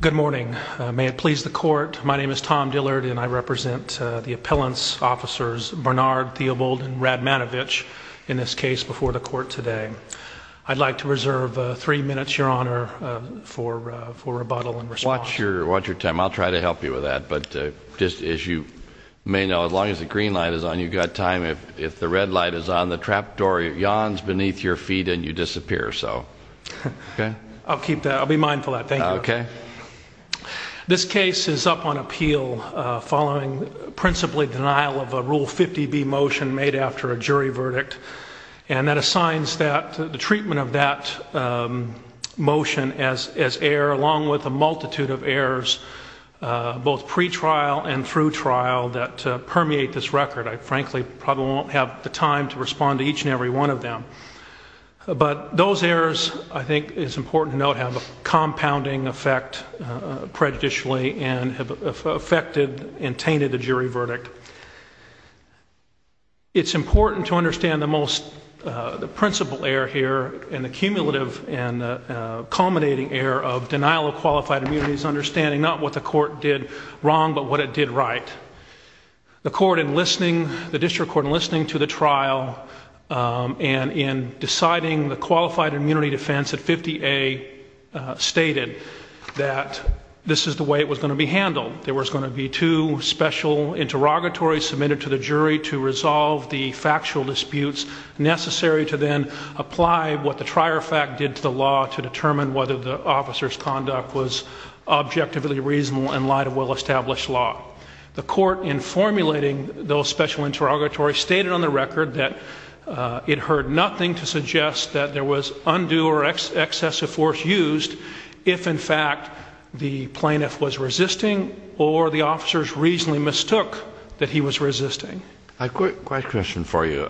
Good morning. May it please the court, my name is Tom Dillard and I represent the appellants officers Barnard, Theobald, and Radmanovich in this case before the court today. I'd like to reserve three minutes, your honor, for rebuttal and response. Watch your time. I'll try to help you with that, but just as you may know, as long as the green light is on, you've got time. If the red light is on, the trapdoor yawns beneath your feet and you disappear. I'll be mindful of that, thank you. This case is up on appeal following principally denial of a Rule 50b motion made after a jury verdict and that assigns the treatment of that motion as error along with a multitude of errors, both pre-trial and through trial, that permeate this record. I frankly probably won't have the time to respond to each and every one of them, but those errors, I think it's important to note, have a compounding effect prejudicially and have affected and tainted the jury verdict. It's important to understand the most, the principal error here and the cumulative and culminating error of denial of qualified immunity is understanding not what the court did wrong, but what it did right. The court in listening, the district court in listening to the trial and in deciding the qualified immunity defense at 50a stated that this is the way it was going to be handled. There was going to be two special interrogatories submitted to the jury to resolve the factual disputes necessary to then apply what the trier fact did to the law to determine whether the officer's conduct was objectively reasonable in light of well-established law. The court in it heard nothing to suggest that there was undue or excessive force used if in fact the plaintiff was resisting or the officers reasonably mistook that he was resisting. I've got a question for you.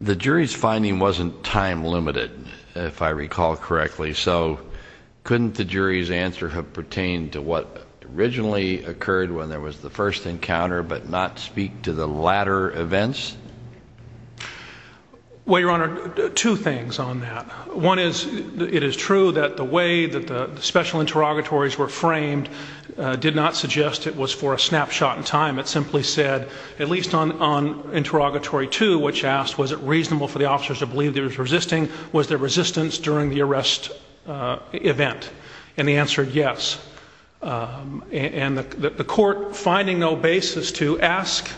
The jury's finding wasn't time limited, if I recall correctly, so couldn't the jury's answer have pertained to what originally occurred when there was the first encounter but not speak to the latter events? Well, Your Honor, two things on that. One is it is true that the way that the special interrogatories were framed did not suggest it was for a snapshot in time. It simply said, at least on interrogatory two, which asked was it reasonable for the officers to believe there was resisting, was there resistance during the arrest event? And the answer is yes. And the court, finding no basis to ask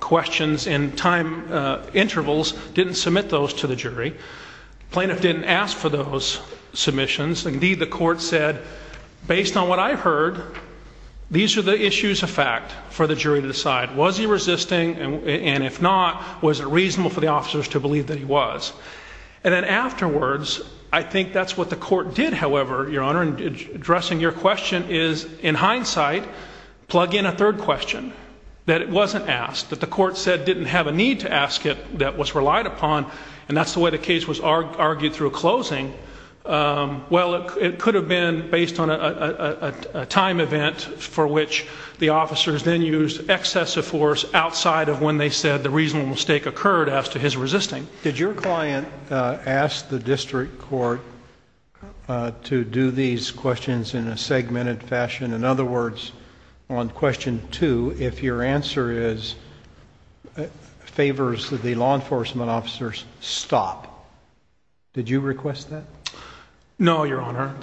questions in time intervals, didn't submit those to the jury. Plaintiff didn't ask for those submissions. Indeed, the court said, based on what I heard, these are the issues of fact for the jury to decide. Was he resisting? And if not, was it reasonable for the officers to believe that he was? And then afterwards, I think that's what the court did, however, Your Honor, in addressing your question is, in hindsight, plug in a third question, that it wasn't asked, that the court said didn't have a need to ask it, that was relied upon, and that's the way the case was argued through a closing. Well, it could have been based on a time event for which the officers then used excessive force outside of when they said the mistake occurred as to his resisting. Did your client ask the district court to do these questions in a segmented fashion? In other words, on question two, if your answer is, favors the law enforcement officers, stop. Did you request that? No, Your Honor,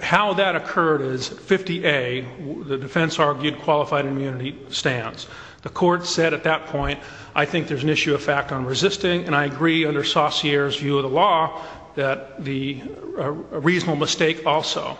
how that occurred is 50A, the defense argued qualified immunity stands. The court said at that point, I think there's an issue of fact on resisting, and I agree under Saussure's view of the law that the reasonable mistake also,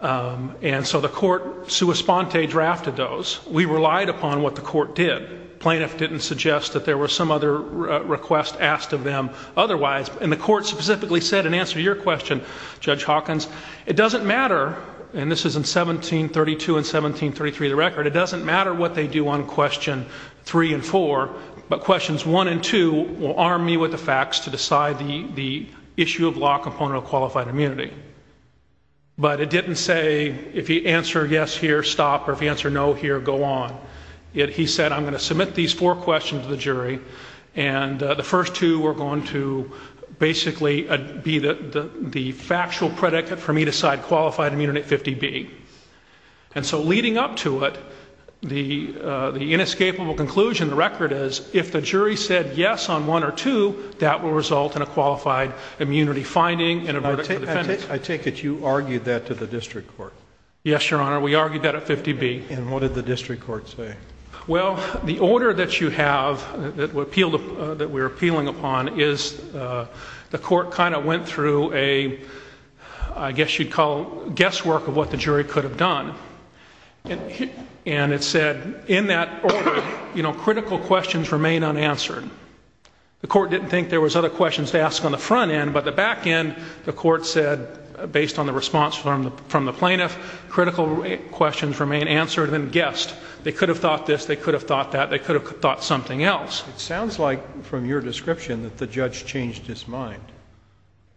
and so the court sua sponte drafted those. We relied upon what the court did. Plaintiff didn't suggest that there were some other requests asked of them otherwise, and the court specifically said, in answer to your question, Judge Hawkins, it doesn't matter what they do on question three and four, but questions one and two will arm me with the facts to decide the issue of law component of qualified immunity. But it didn't say, if you answer yes here, stop, or if you answer no here, go on. He said, I'm going to submit these four questions to the jury, and the first two are going to basically be the factual predicate for me to decide qualified immunity at 50B. And so leading up to it, the inescapable conclusion, the record is, if the jury said yes on one or two, that will result in a qualified immunity finding and a verdict for defendants. I take it you argued that to the district court? Yes, Your Honor, we argued that at 50B. And what did the district court say? Well, the order that you have, that we're appealing upon, is the court kind of went through a, I guess you'd call, guesswork of what the jury could have done. And it said, in that order, you know, critical questions remain unanswered. The court didn't think there was other questions to ask on the front end, but the back end, the court said, based on the response from the plaintiff, critical questions remain answered and guessed. They could have thought this, they could have thought that, they could have thought something else. It sounds like, from your description, that the judge changed his mind.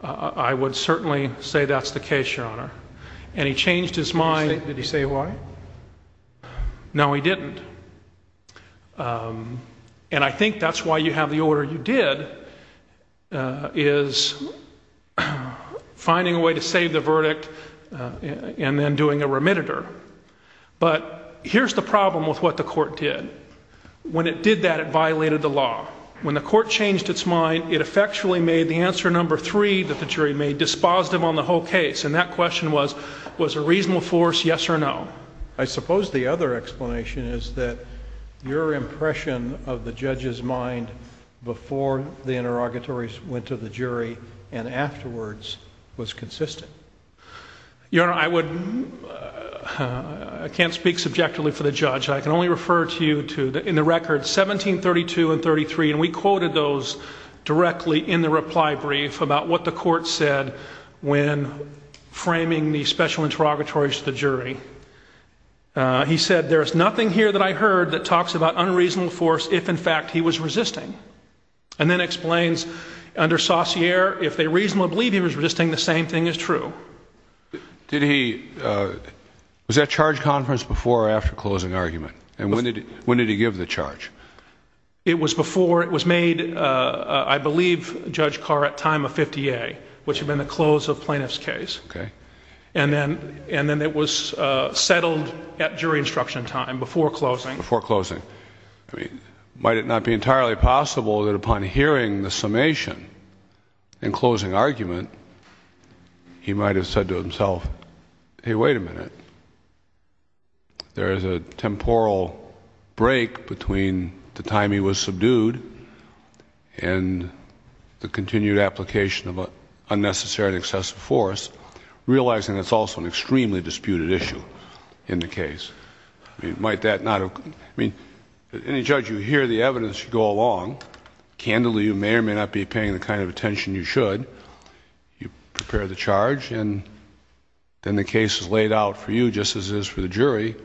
I would certainly say that's the case, Your Honor. And he changed his mind. Did he say why? No, he didn't. And I think that's why you have the order you did, is finding a way to save the verdict and then doing a remittitor. But here's the problem with what the court did. When it did that, it violated the law. When the court changed its mind, it effectually made the answer number three that the jury made dispositive on the whole case. And that question was, was a reasonable force yes or no? I suppose the other explanation is that your impression of the judge's mind before the interrogatories went to the jury and afterwards was consistent. Your Honor, I can't speak subjectively for the judge. I can only refer to you to, in the record, 1732 and 33. And we quoted those directly in the reply brief about what the court said when framing the special interrogatories to the jury. He said, there is nothing here that I heard that talks about unreasonable force if, in fact, he was resisting. And then explains under Saussure, if they reasonably believe he was resisting, the same thing is true. Was that charge conference before or after closing argument? And when did he give the charge? It was before. It was made, I believe, Judge Carr at time of 50A, which had been the close of plaintiff's case. And then it was settled at jury instruction time before closing. Before closing. I mean, might it not be entirely possible that upon hearing the summation and closing argument, he might have said to himself, hey, wait a minute. There is a temporal break between the time he was subdued and the continued application of unnecessary and excessive force, realizing that's also an extremely disputed issue in the case. Might that not have... I mean, any judge, you hear the evidence, you go along. Candidly, you may or may not be paying the kind of attention you should. You prepare the charge, and then the case is laid out for you just as it is for the jury.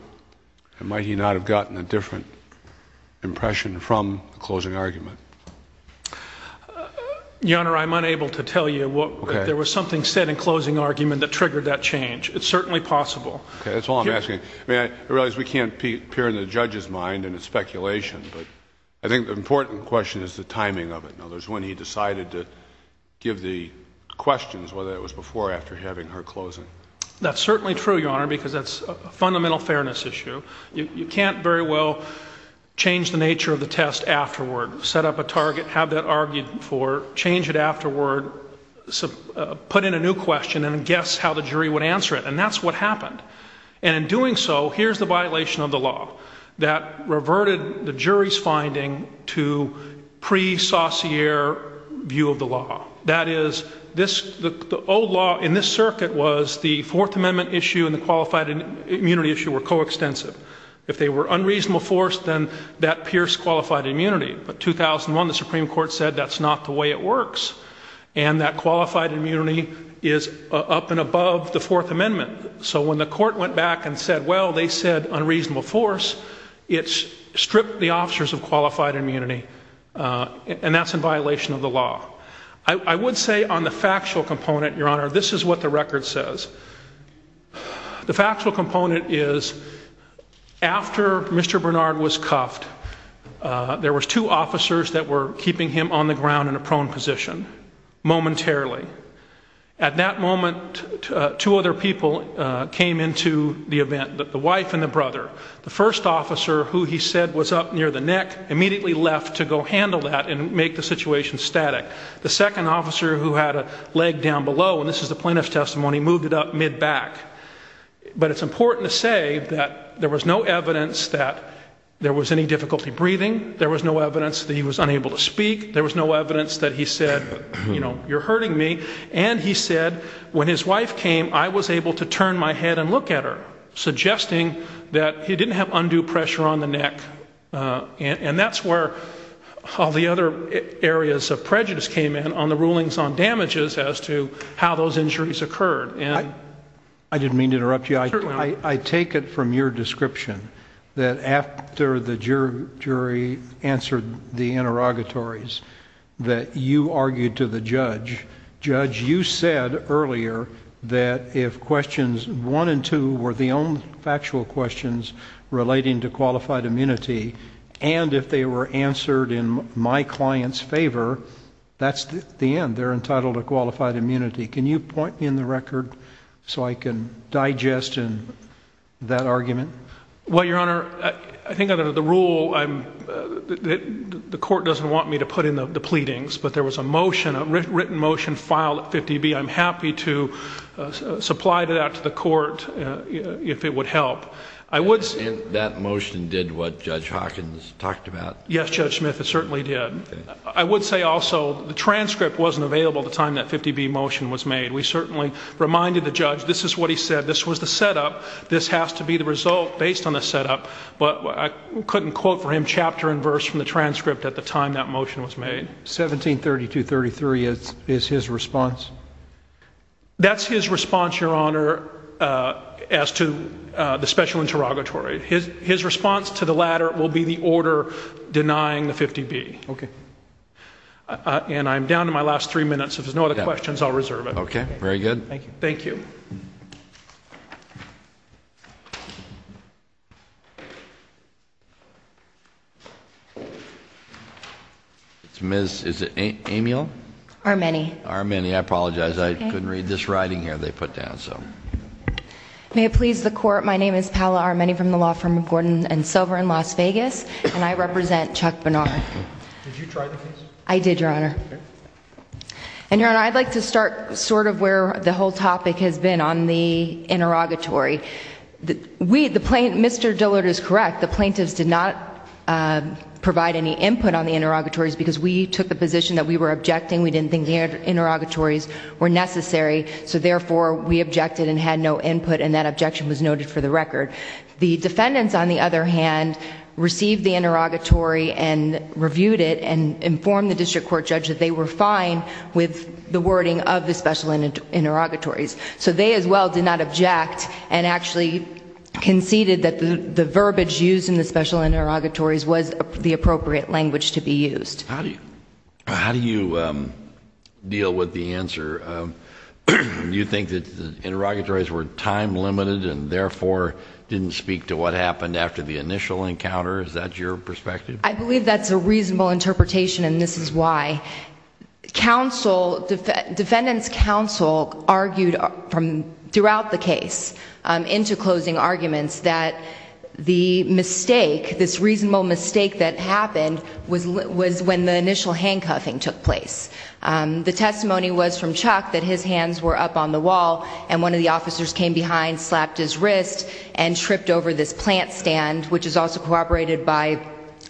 And might he not have gotten a different impression from the closing argument? Your Honor, I'm unable to tell you. There was something said in closing argument that Okay, that's all I'm asking. I realize we can't peer in the judge's mind and it's speculation, but I think the important question is the timing of it. When he decided to give the questions, whether it was before or after having her closing. That's certainly true, Your Honor, because that's a fundamental fairness issue. You can't very well change the nature of the test afterward. Set up a target, have that argued for, change it afterward, so put in a new question and guess how the jury would answer it. And that's what happened. And in doing so, here's the violation of the law that reverted the jury's finding to pre-sauciere view of the law. That is, the old law in this circuit was the Fourth Amendment issue and the qualified immunity issue were coextensive. If they were unreasonable force, then that pierced qualified immunity. But 2001, the Supreme Court said that's not the way it works. And that qualified immunity is up and above the Fourth Amendment. So when the court went back and said, well, they said unreasonable force, it's stripped the officers of qualified immunity. And that's in violation of the law. I would say on the factual component, Your Honor, this is what the record says. The factual component is after Mr. Bernard was cuffed, there was two officers that were keeping him on the ground in a prone position momentarily. At that moment, two other people came into the event, the wife and the brother. The first officer who he said was up near the neck immediately left to go handle that and make the situation static. The second officer who had a leg down below, and this is the plaintiff's testimony, moved it up back. But it's important to say that there was no evidence that there was any difficulty breathing. There was no evidence that he was unable to speak. There was no evidence that he said, you know, you're hurting me. And he said when his wife came, I was able to turn my head and look at her, suggesting that he didn't have undue pressure on the neck. And that's where all the other areas of prejudice came in on the rulings on damages as to how those injuries occurred. I didn't mean to interrupt you. I take it from your description that after the jury answered the interrogatories, that you argued to the judge, Judge, you said earlier that if questions one and two were the only factual questions relating to qualified immunity, and if they were answered in my client's favor, that's the end. They're entitled to qualified immunity. Can you point in the record so I can digest that argument? Well, Your Honor, I think under the rule, the court doesn't want me to put in the pleadings, but there was a motion, a written motion filed at 50B. I'm happy to supply that to the court if it would help. And that motion did what Judge Hawkins talked about? Yes, Judge Smith, it certainly did. I would say also the transcript wasn't available at the time that 50B motion was made. We certainly reminded the judge this is what he said. This was the setup. This has to be the result based on the setup. But I couldn't quote for him chapter and verse from the transcript at the time that motion was made. 1732-33 is his response? That's his response, Your Honor. As to the special interrogatory, his response to the latter will be the order denying the 50B. Okay. And I'm down to my last three minutes. If there's no other questions, I'll reserve it. Okay. Very good. Thank you. It's Ms. Amiel? Armeni. Armeni. I apologize. I couldn't read this writing here they put down. May it please the court. My name is Paola Armeni from the Law Firm of Gordon and Silver in Las Vegas. And I represent Chuck Bernard. Did you try the case? I did, Your Honor. And Your Honor, I'd like to start sort of where the whole topic has been on the interrogatory. Mr. Dillard is correct. The plaintiffs did not provide any input on the interrogatories because we took the position that we were objecting. We didn't think the interrogatories were necessary. So therefore, we objected and had no input and that objection was noted for the record. The defendants, on the other hand, received the interrogatory and reviewed it and informed the district court judge that they were fine with the wording of the special interrogatories. So they, as well, did not object and actually conceded that the verbiage used in the special interrogatories was the appropriate language to be used. How do you deal with the answer? Do you think that the interrogatories were time limited and therefore didn't speak to what happened after the initial encounter? Is that your perspective? I believe that's a reasonable interpretation and this is why. Defendants counsel argued throughout the case into closing arguments that the mistake, this reasonable mistake that happened was when the initial handcuffing took place. The testimony was from Chuck that his hands were up on the wall and one of the officers came behind, slapped his wrist, and tripped over this plant stand, which is also cooperated by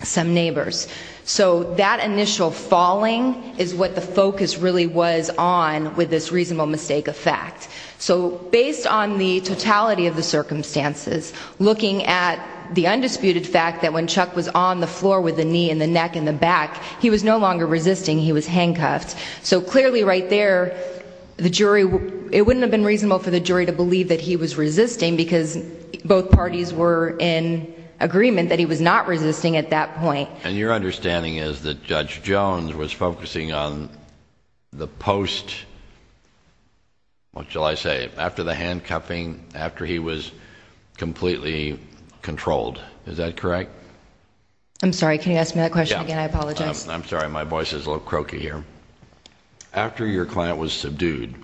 some neighbors. So that initial falling is what the focus really was on with this reasonable mistake of fact. So based on the totality of the circumstances, looking at the undisputed fact that when Chuck was on the floor with the knee and the neck and the back, he was no longer resisting, he was handcuffed. So clearly right there, the jury, it wouldn't have been reasonable for the jury to believe that he was resisting because both parties were in agreement that he was not resisting at that point. And your understanding is that Judge Jones was focusing on the post, what shall I say, after the handcuffing, after he was completely controlled. Is that correct? I'm sorry. Can you ask me that question again? I apologize. I'm sorry. My voice is a little croaky here. After your client was subdued,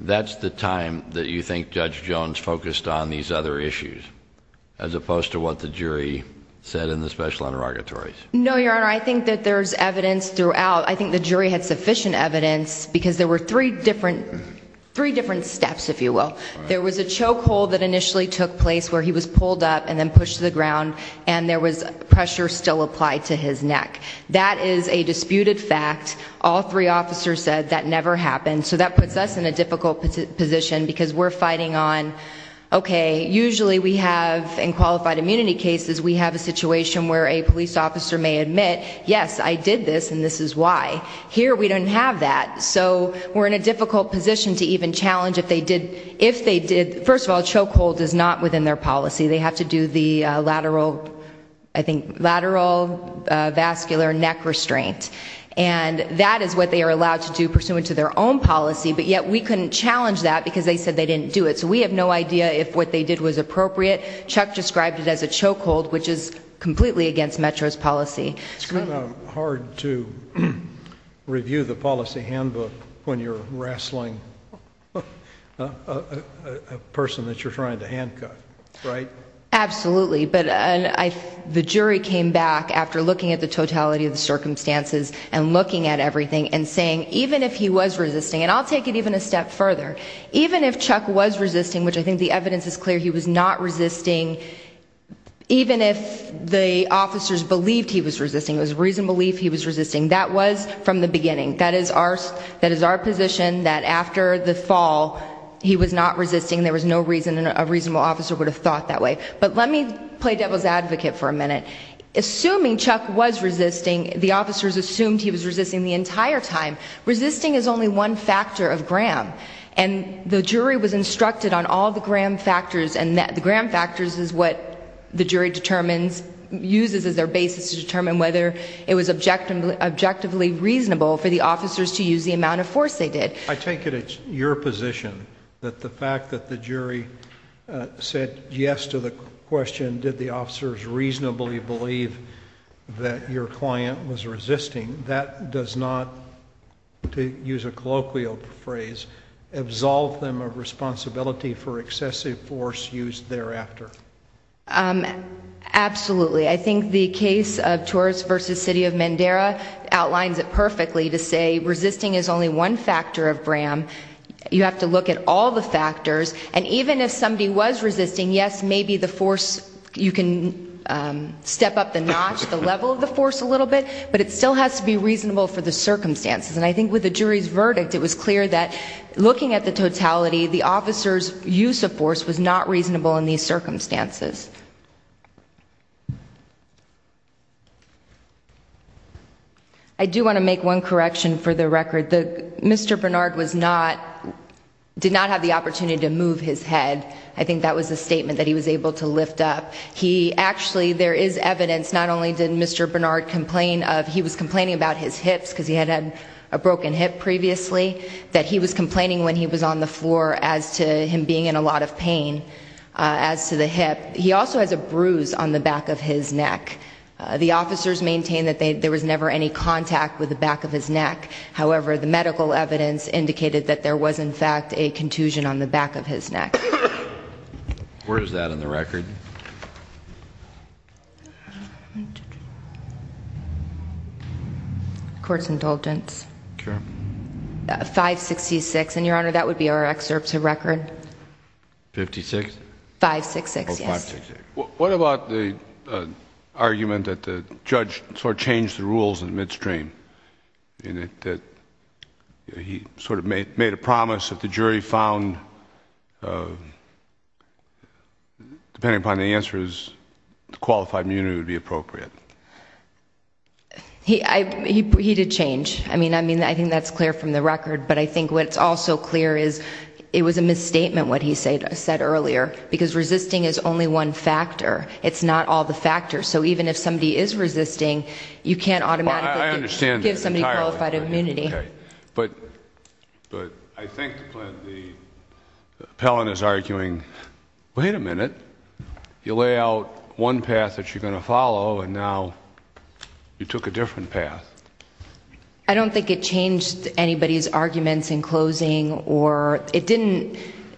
that's the time that you think Judge Jones focused on these other issues as opposed to what the jury said in the special interrogatories? No, Your Honor. I think that there's evidence throughout. I think the jury had sufficient evidence because there were three different steps, if you will. There was a choke hold that initially took place where he was pulled up and then pushed to the ground and there was pressure still applied to his neck. That is a disputed fact. All three officers said that never happened. So that puts us in a difficult position because we're fighting on, okay, usually we have in qualified immunity cases, we have a situation where a police officer may admit, yes, I did this and this is why. Here we don't have that. So we're in a difficult position to challenge. First of all, choke hold is not within their policy. They have to do the lateral vascular neck restraint. And that is what they are allowed to do pursuant to their own policy, but yet we couldn't challenge that because they said they didn't do it. So we have no idea if what they did was appropriate. Chuck described it as a choke hold, which is completely against Metro's policy. It's kind of hard to review the policy handbook when you're wrestling with a person that you're trying to handcuff, right? Absolutely. But the jury came back after looking at the totality of the circumstances and looking at everything and saying, even if he was resisting, and I'll take it even a step further, even if Chuck was resisting, which I think the evidence is clear, he was not resisting. Even if the officers believed he was resisting, it was reasonable belief he was resisting. That was from the beginning. That is our position that after the fall, he was not resisting. There was no reason a reasonable officer would have thought that way. But let me play devil's advocate for a minute. Assuming Chuck was resisting, the officers assumed he was resisting the entire time. Resisting is only one factor of Graham. And the jury was instructed on all the Graham factors and the Graham factors is what the jury uses as their basis to determine whether it was objectively reasonable for the officers to use the amount of force they did. I take it it's your position that the fact that the jury said yes to the question, did the officers reasonably believe that your client was resisting, that does not, to use a colloquial phrase, absolve them of responsibility for excessive force used thereafter. Absolutely. I think the case of Torres versus City of Mandera outlines it perfectly to say resisting is only one factor of Graham. You have to look at all the factors. And even if somebody was resisting, yes, maybe the force, you can step up the notch, the level of the force a little bit, but it still has to be reasonable for the circumstances. And I think with the jury's verdict, it was clear that looking at the totality, the officer's use of force was not reasonable in these circumstances. I do want to make one correction for the record. Mr. Bernard was not, did not have the opportunity to move his head. I think that was a statement that he was able to lift up. He actually, there is evidence, not only did Mr. Bernard complain of, he was complaining about his hips because he had had a broken hip previously, that he was complaining when he was on the floor as to him being in a lot of pain as to the hip. He also has a bruise on the back of his neck. The officers maintain that there was never any contact with the back of his neck. However, the medical evidence indicated that there was in fact a contusion on the back of his neck. Where is that in the record? Court's indulgence. Sure. 566. And Your Honor, that would be our excerpt to record. 56? 566, yes. What about the argument that the judge sort of changed the rules in the midstream? And that he sort of made a promise that the jury found, depending upon the answer, the qualified immunity would be appropriate. He did change. I mean, I think that's clear from the record. But I think what's also clear is, it was a misstatement what he said earlier. Because resisting is only one factor. It's not all the factors. So even if somebody is resisting, you can't automatically give somebody qualified immunity. But I think the appellant is arguing, wait a minute. You lay out one path that you're going to follow, and now you took a different path. I don't think it changed anybody's arguments in closing.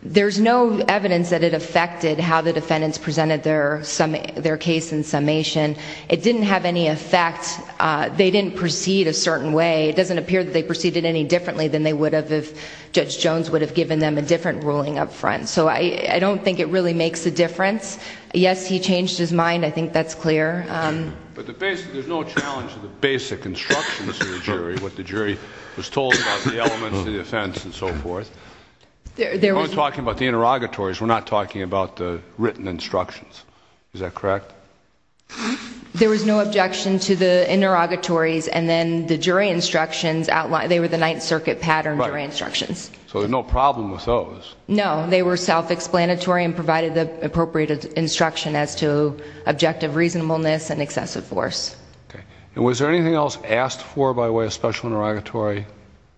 There's no evidence that it affected how the defendants presented their case in summation. It didn't have any effect. They didn't proceed a certain way. It doesn't appear that they proceeded any differently than they would have given them a different ruling up front. So I don't think it really makes a difference. Yes, he changed his mind. I think that's clear. But there's no challenge to the basic instructions to the jury, what the jury was told about the elements of the offense and so forth. We're talking about the interrogatories. We're not talking about the written instructions. Is that correct? There was no objection to the interrogatories and then the jury instructions they were the Ninth Circuit pattern jury instructions. So there's no problem with those? No, they were self-explanatory and provided the appropriate instruction as to objective reasonableness and excessive force. And was there anything else asked for by way of special interrogatory?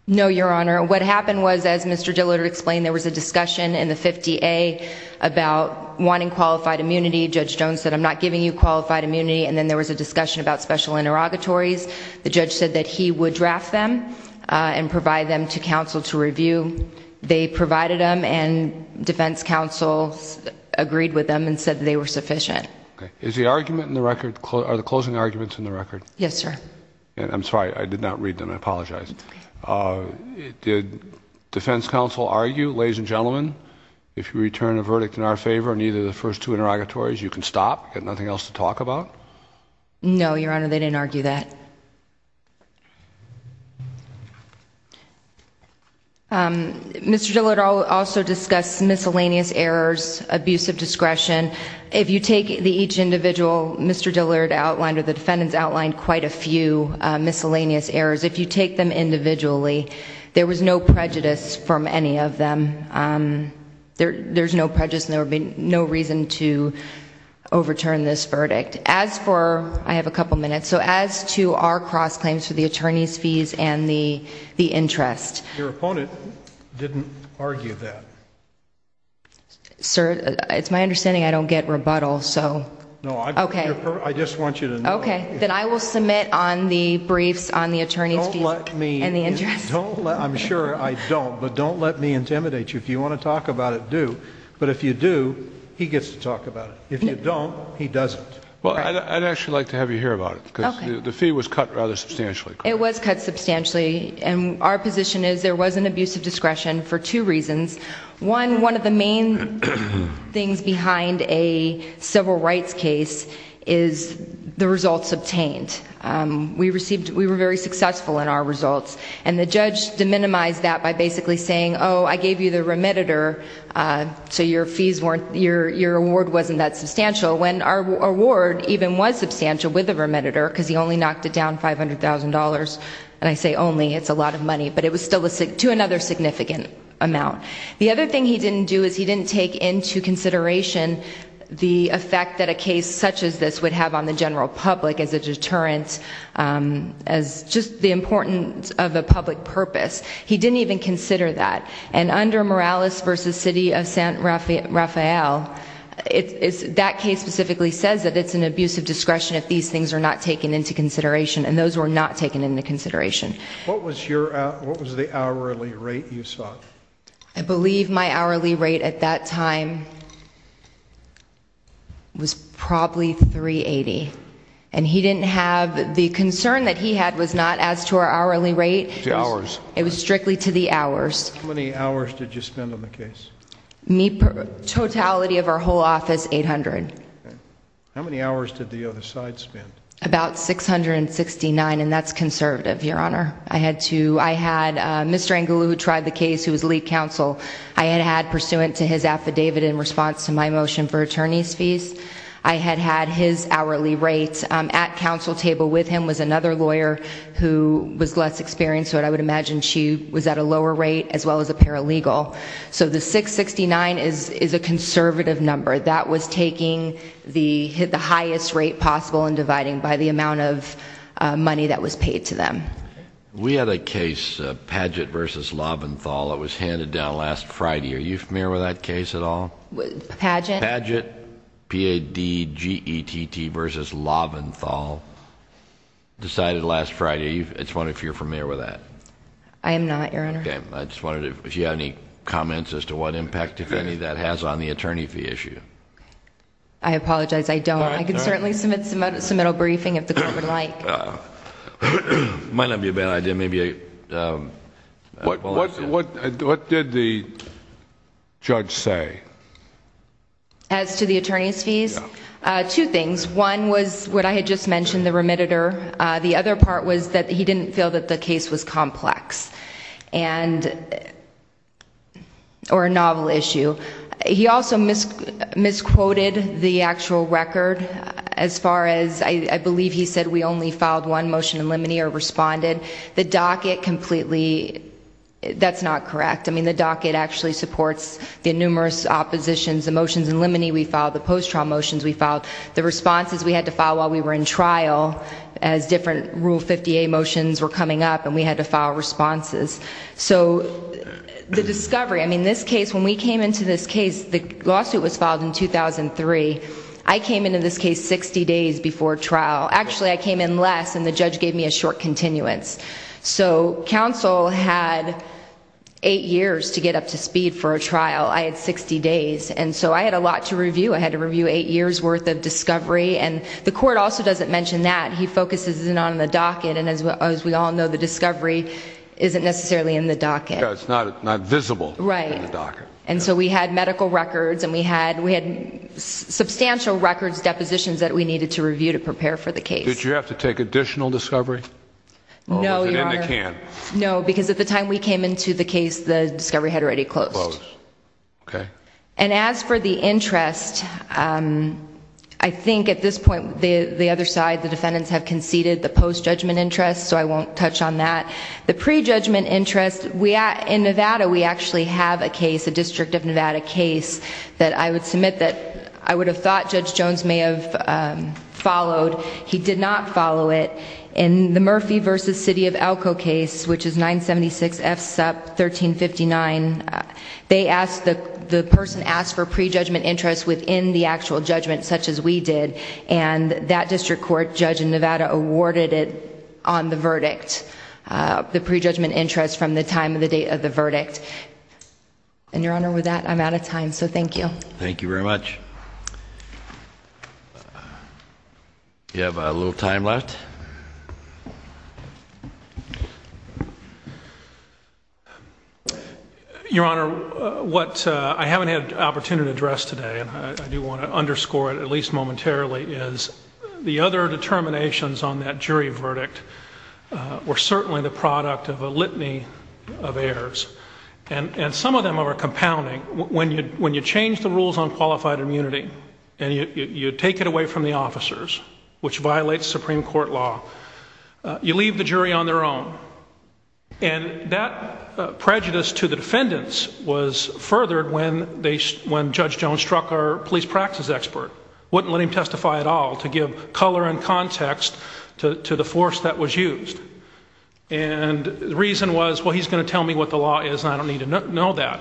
No, Your Honor. What happened was, as Mr. Dillard explained, there was a discussion in the 50A about wanting qualified immunity. Judge Jones said, I'm not giving you qualified immunity. And then there was a discussion about special interrogatories. The judge said that he would draft them and provide them to counsel to review. They provided them and defense counsel agreed with them and said that they were sufficient. Is the argument in the record, are the closing arguments in the record? Yes, sir. I'm sorry. I did not read them. I apologize. Did defense counsel argue, ladies and gentlemen, if you return a verdict in our favor, neither of the first two interrogatories, you can stop, got nothing else to talk about? No, Your Honor. They didn't argue that. Mr. Dillard also discussed miscellaneous errors, abusive discretion. If you take each individual, Mr. Dillard outlined or the defendants outlined quite a few miscellaneous errors. If you take them individually, there was no prejudice from any of them. There's no prejudice and there would be I have a couple minutes. So as to our cross claims for the attorney's fees and the interest. Your opponent didn't argue that. Sir, it's my understanding I don't get rebuttal, so. No, I just want you to know. Okay, then I will submit on the briefs on the attorney's fees and the interest. I'm sure I don't, but don't let me intimidate you. If you want to talk about it, do. But if you do, he gets to talk about it. If you don't, he doesn't. Well, I'd actually like to have you hear about it because the fee was cut rather substantially. It was cut substantially and our position is there was an abusive discretion for two reasons. One, one of the main things behind a civil rights case is the results obtained. We received, we were very successful in our results and the judge deminimized that by basically saying, oh, I gave you the remediator, so your fees weren't, your award wasn't that substantial when our award even was substantial with the remediator because he only knocked it down $500,000. And I say only, it's a lot of money, but it was still to another significant amount. The other thing he didn't do is he didn't take into consideration the effect that a case such as this would have on the general public as a deterrent, as just the importance of a public purpose. He didn't even consider that. And under Morales v. City of San Rafael, that case specifically says that it's an abusive discretion if these things are not taken into consideration and those were not taken into consideration. What was your, what was the hourly rate you saw? I believe my hourly rate at that time was probably $380,000. And he didn't have, the concern that he had was not as to our hourly rate. It was strictly to the hours. How many hours did you spend on the case? Totality of our whole office, $800,000. How many hours did the other side spend? About $669,000 and that's conservative, Your Honor. I had to, I had Mr. Angulu who tried the case who was lead counsel, I had had pursuant to his affidavit in response to my motion for another lawyer who was less experienced so I would imagine she was at a lower rate as well as a paralegal. So the $669,000 is a conservative number. That was taking the highest rate possible and dividing by the amount of money that was paid to them. We had a case, Paget v. Loventhal, that was handed down last Friday. Are you familiar with that case at all? Paget? Paget, P-A-G-E-T-T versus Loventhal, decided last Friday. I was wondering if you're familiar with that. I am not, Your Honor. Okay, I just wanted to, if you have any comments as to what impact, if any, that has on the attorney fee issue. I apologize, I don't. I can certainly submit a submittal briefing if the court would like. Might not be a bad idea, maybe a, um, What, what, what did the judge say? As to the attorney's fees? Two things. One was what I had just mentioned, the remitter. The other part was that he didn't feel that the case was complex and, or a novel issue. He also misquoted the actual record as far as, I believe he said we only filed one motion in limine or responded. The docket completely, that's not correct. I mean, the docket actually supports the numerous oppositions, the motions in limine we filed, the post-trial motions we filed, the responses we had to file while we were in trial as different Rule 58 motions were coming up and we had to file responses. So, the discovery, I mean, this case, when we came into this case, the lawsuit was filed in 2003. I came into this case 60 days before trial. Actually, I came in less and the judge gave me a short continuance. So, counsel had eight years to get up to speed for a trial. I had 60 days and so I had a lot to review. I had to review eight years worth of discovery and the court also doesn't mention that. He focuses in on the docket and as we all know, the discovery isn't necessarily in the docket. It's not visible in the docket. And so we had medical records and we had substantial records, depositions that we needed to review to prepare for the case. Did you have to take additional discovery? No, because at the time we came into the case, the discovery had already closed. Closed. Okay. And as for the interest, I think at this point, the other side, the defendants have conceded the post-judgment interest so I won't touch on that. The pre-judgment interest, in Nevada, we actually have a case, a District of Nevada case that I would submit that I would have thought Judge Jones may have followed. He did not follow it. In the Murphy v. City of Elko case, which is 976 F SUP 1359, the person asked for pre-judgment interest within the actual judgment such as we did and that District Court Judge in Nevada awarded it on the verdict, the pre-judgment interest from the time of the date of the verdict. And Your Honor, with that, I'm out of time so thank you. Thank you very much. You have a little time left. Your Honor, what I haven't had an opportunity to address today, and I do want to underscore it at least momentarily, is the other determinations on that jury verdict were certainly the product of a immunity. And you take it away from the officers, which violates Supreme Court law. You leave the jury on their own. And that prejudice to the defendants was furthered when Judge Jones struck our police practice expert, wouldn't let him testify at all to give color and context to the force that was used. And the reason was, well, he's going to tell me what the law is and I don't need to know that.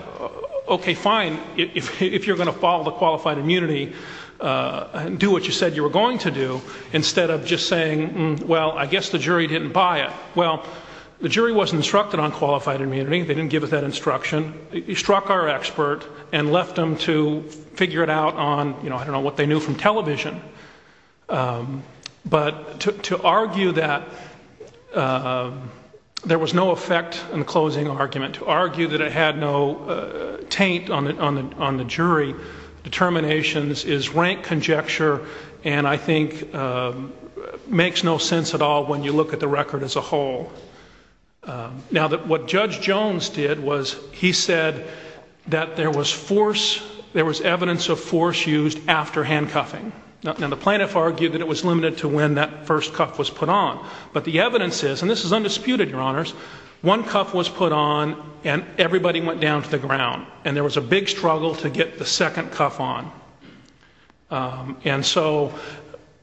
Okay, fine, if you're going to follow the qualified immunity, do what you said you were going to do instead of just saying, well, I guess the jury didn't buy it. Well, the jury wasn't instructed on qualified immunity. They didn't give us that instruction. He struck our expert and left them to figure it out on, I don't know, what they knew from television. But to argue that there was no effect in the closing argument, to argue that it had no taint on the jury determinations is rank conjecture and I think makes no sense at all when you look at the record as a whole. Now, what Judge Jones did was he said that there was force, there was evidence of force used after handcuffing. Now, the plaintiff argued that it was limited to when that first cuff was put on. But the evidence is, and this is undisputed, your honors, one cuff was put on and everybody went down to the ground and there was a big struggle to get the second cuff on. And so,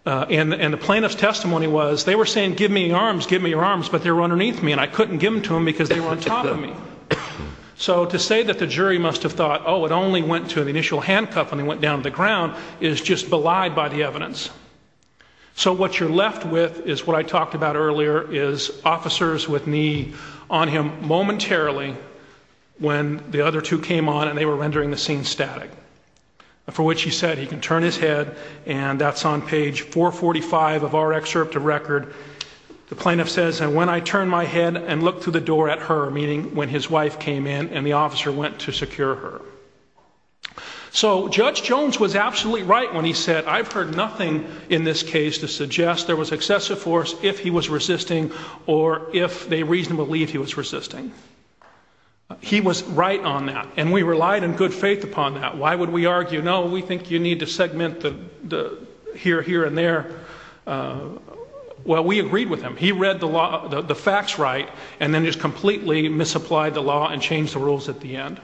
and the plaintiff's testimony was, they were saying, give me your arms, give me your arms, but they were underneath me and I couldn't give them to them because they were on top of me. So to say that the jury must have thought, oh, it only went to the initial handcuff when they went down to the ground is just lied by the evidence. So what you're left with is what I talked about earlier is officers with knee on him momentarily when the other two came on and they were rendering the scene static. For what she said, he can turn his head and that's on page 445 of our excerpt of record. The plaintiff says, and when I turn my head and look through the door at her, meaning when his came in and the officer went to secure her. So Judge Jones was absolutely right when he said, I've heard nothing in this case to suggest there was excessive force if he was resisting or if they reasonably believe he was resisting. He was right on that and we relied in good faith upon that. Why would we argue? No, we think you need to segment the here, here and there. Well, we agreed with him. He read the law, the facts right, and then just completely misapplied the law and changed the rules at the end.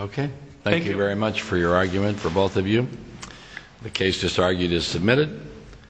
Okay. Thank you very much for your argument for both of you. The case just argued is submitted.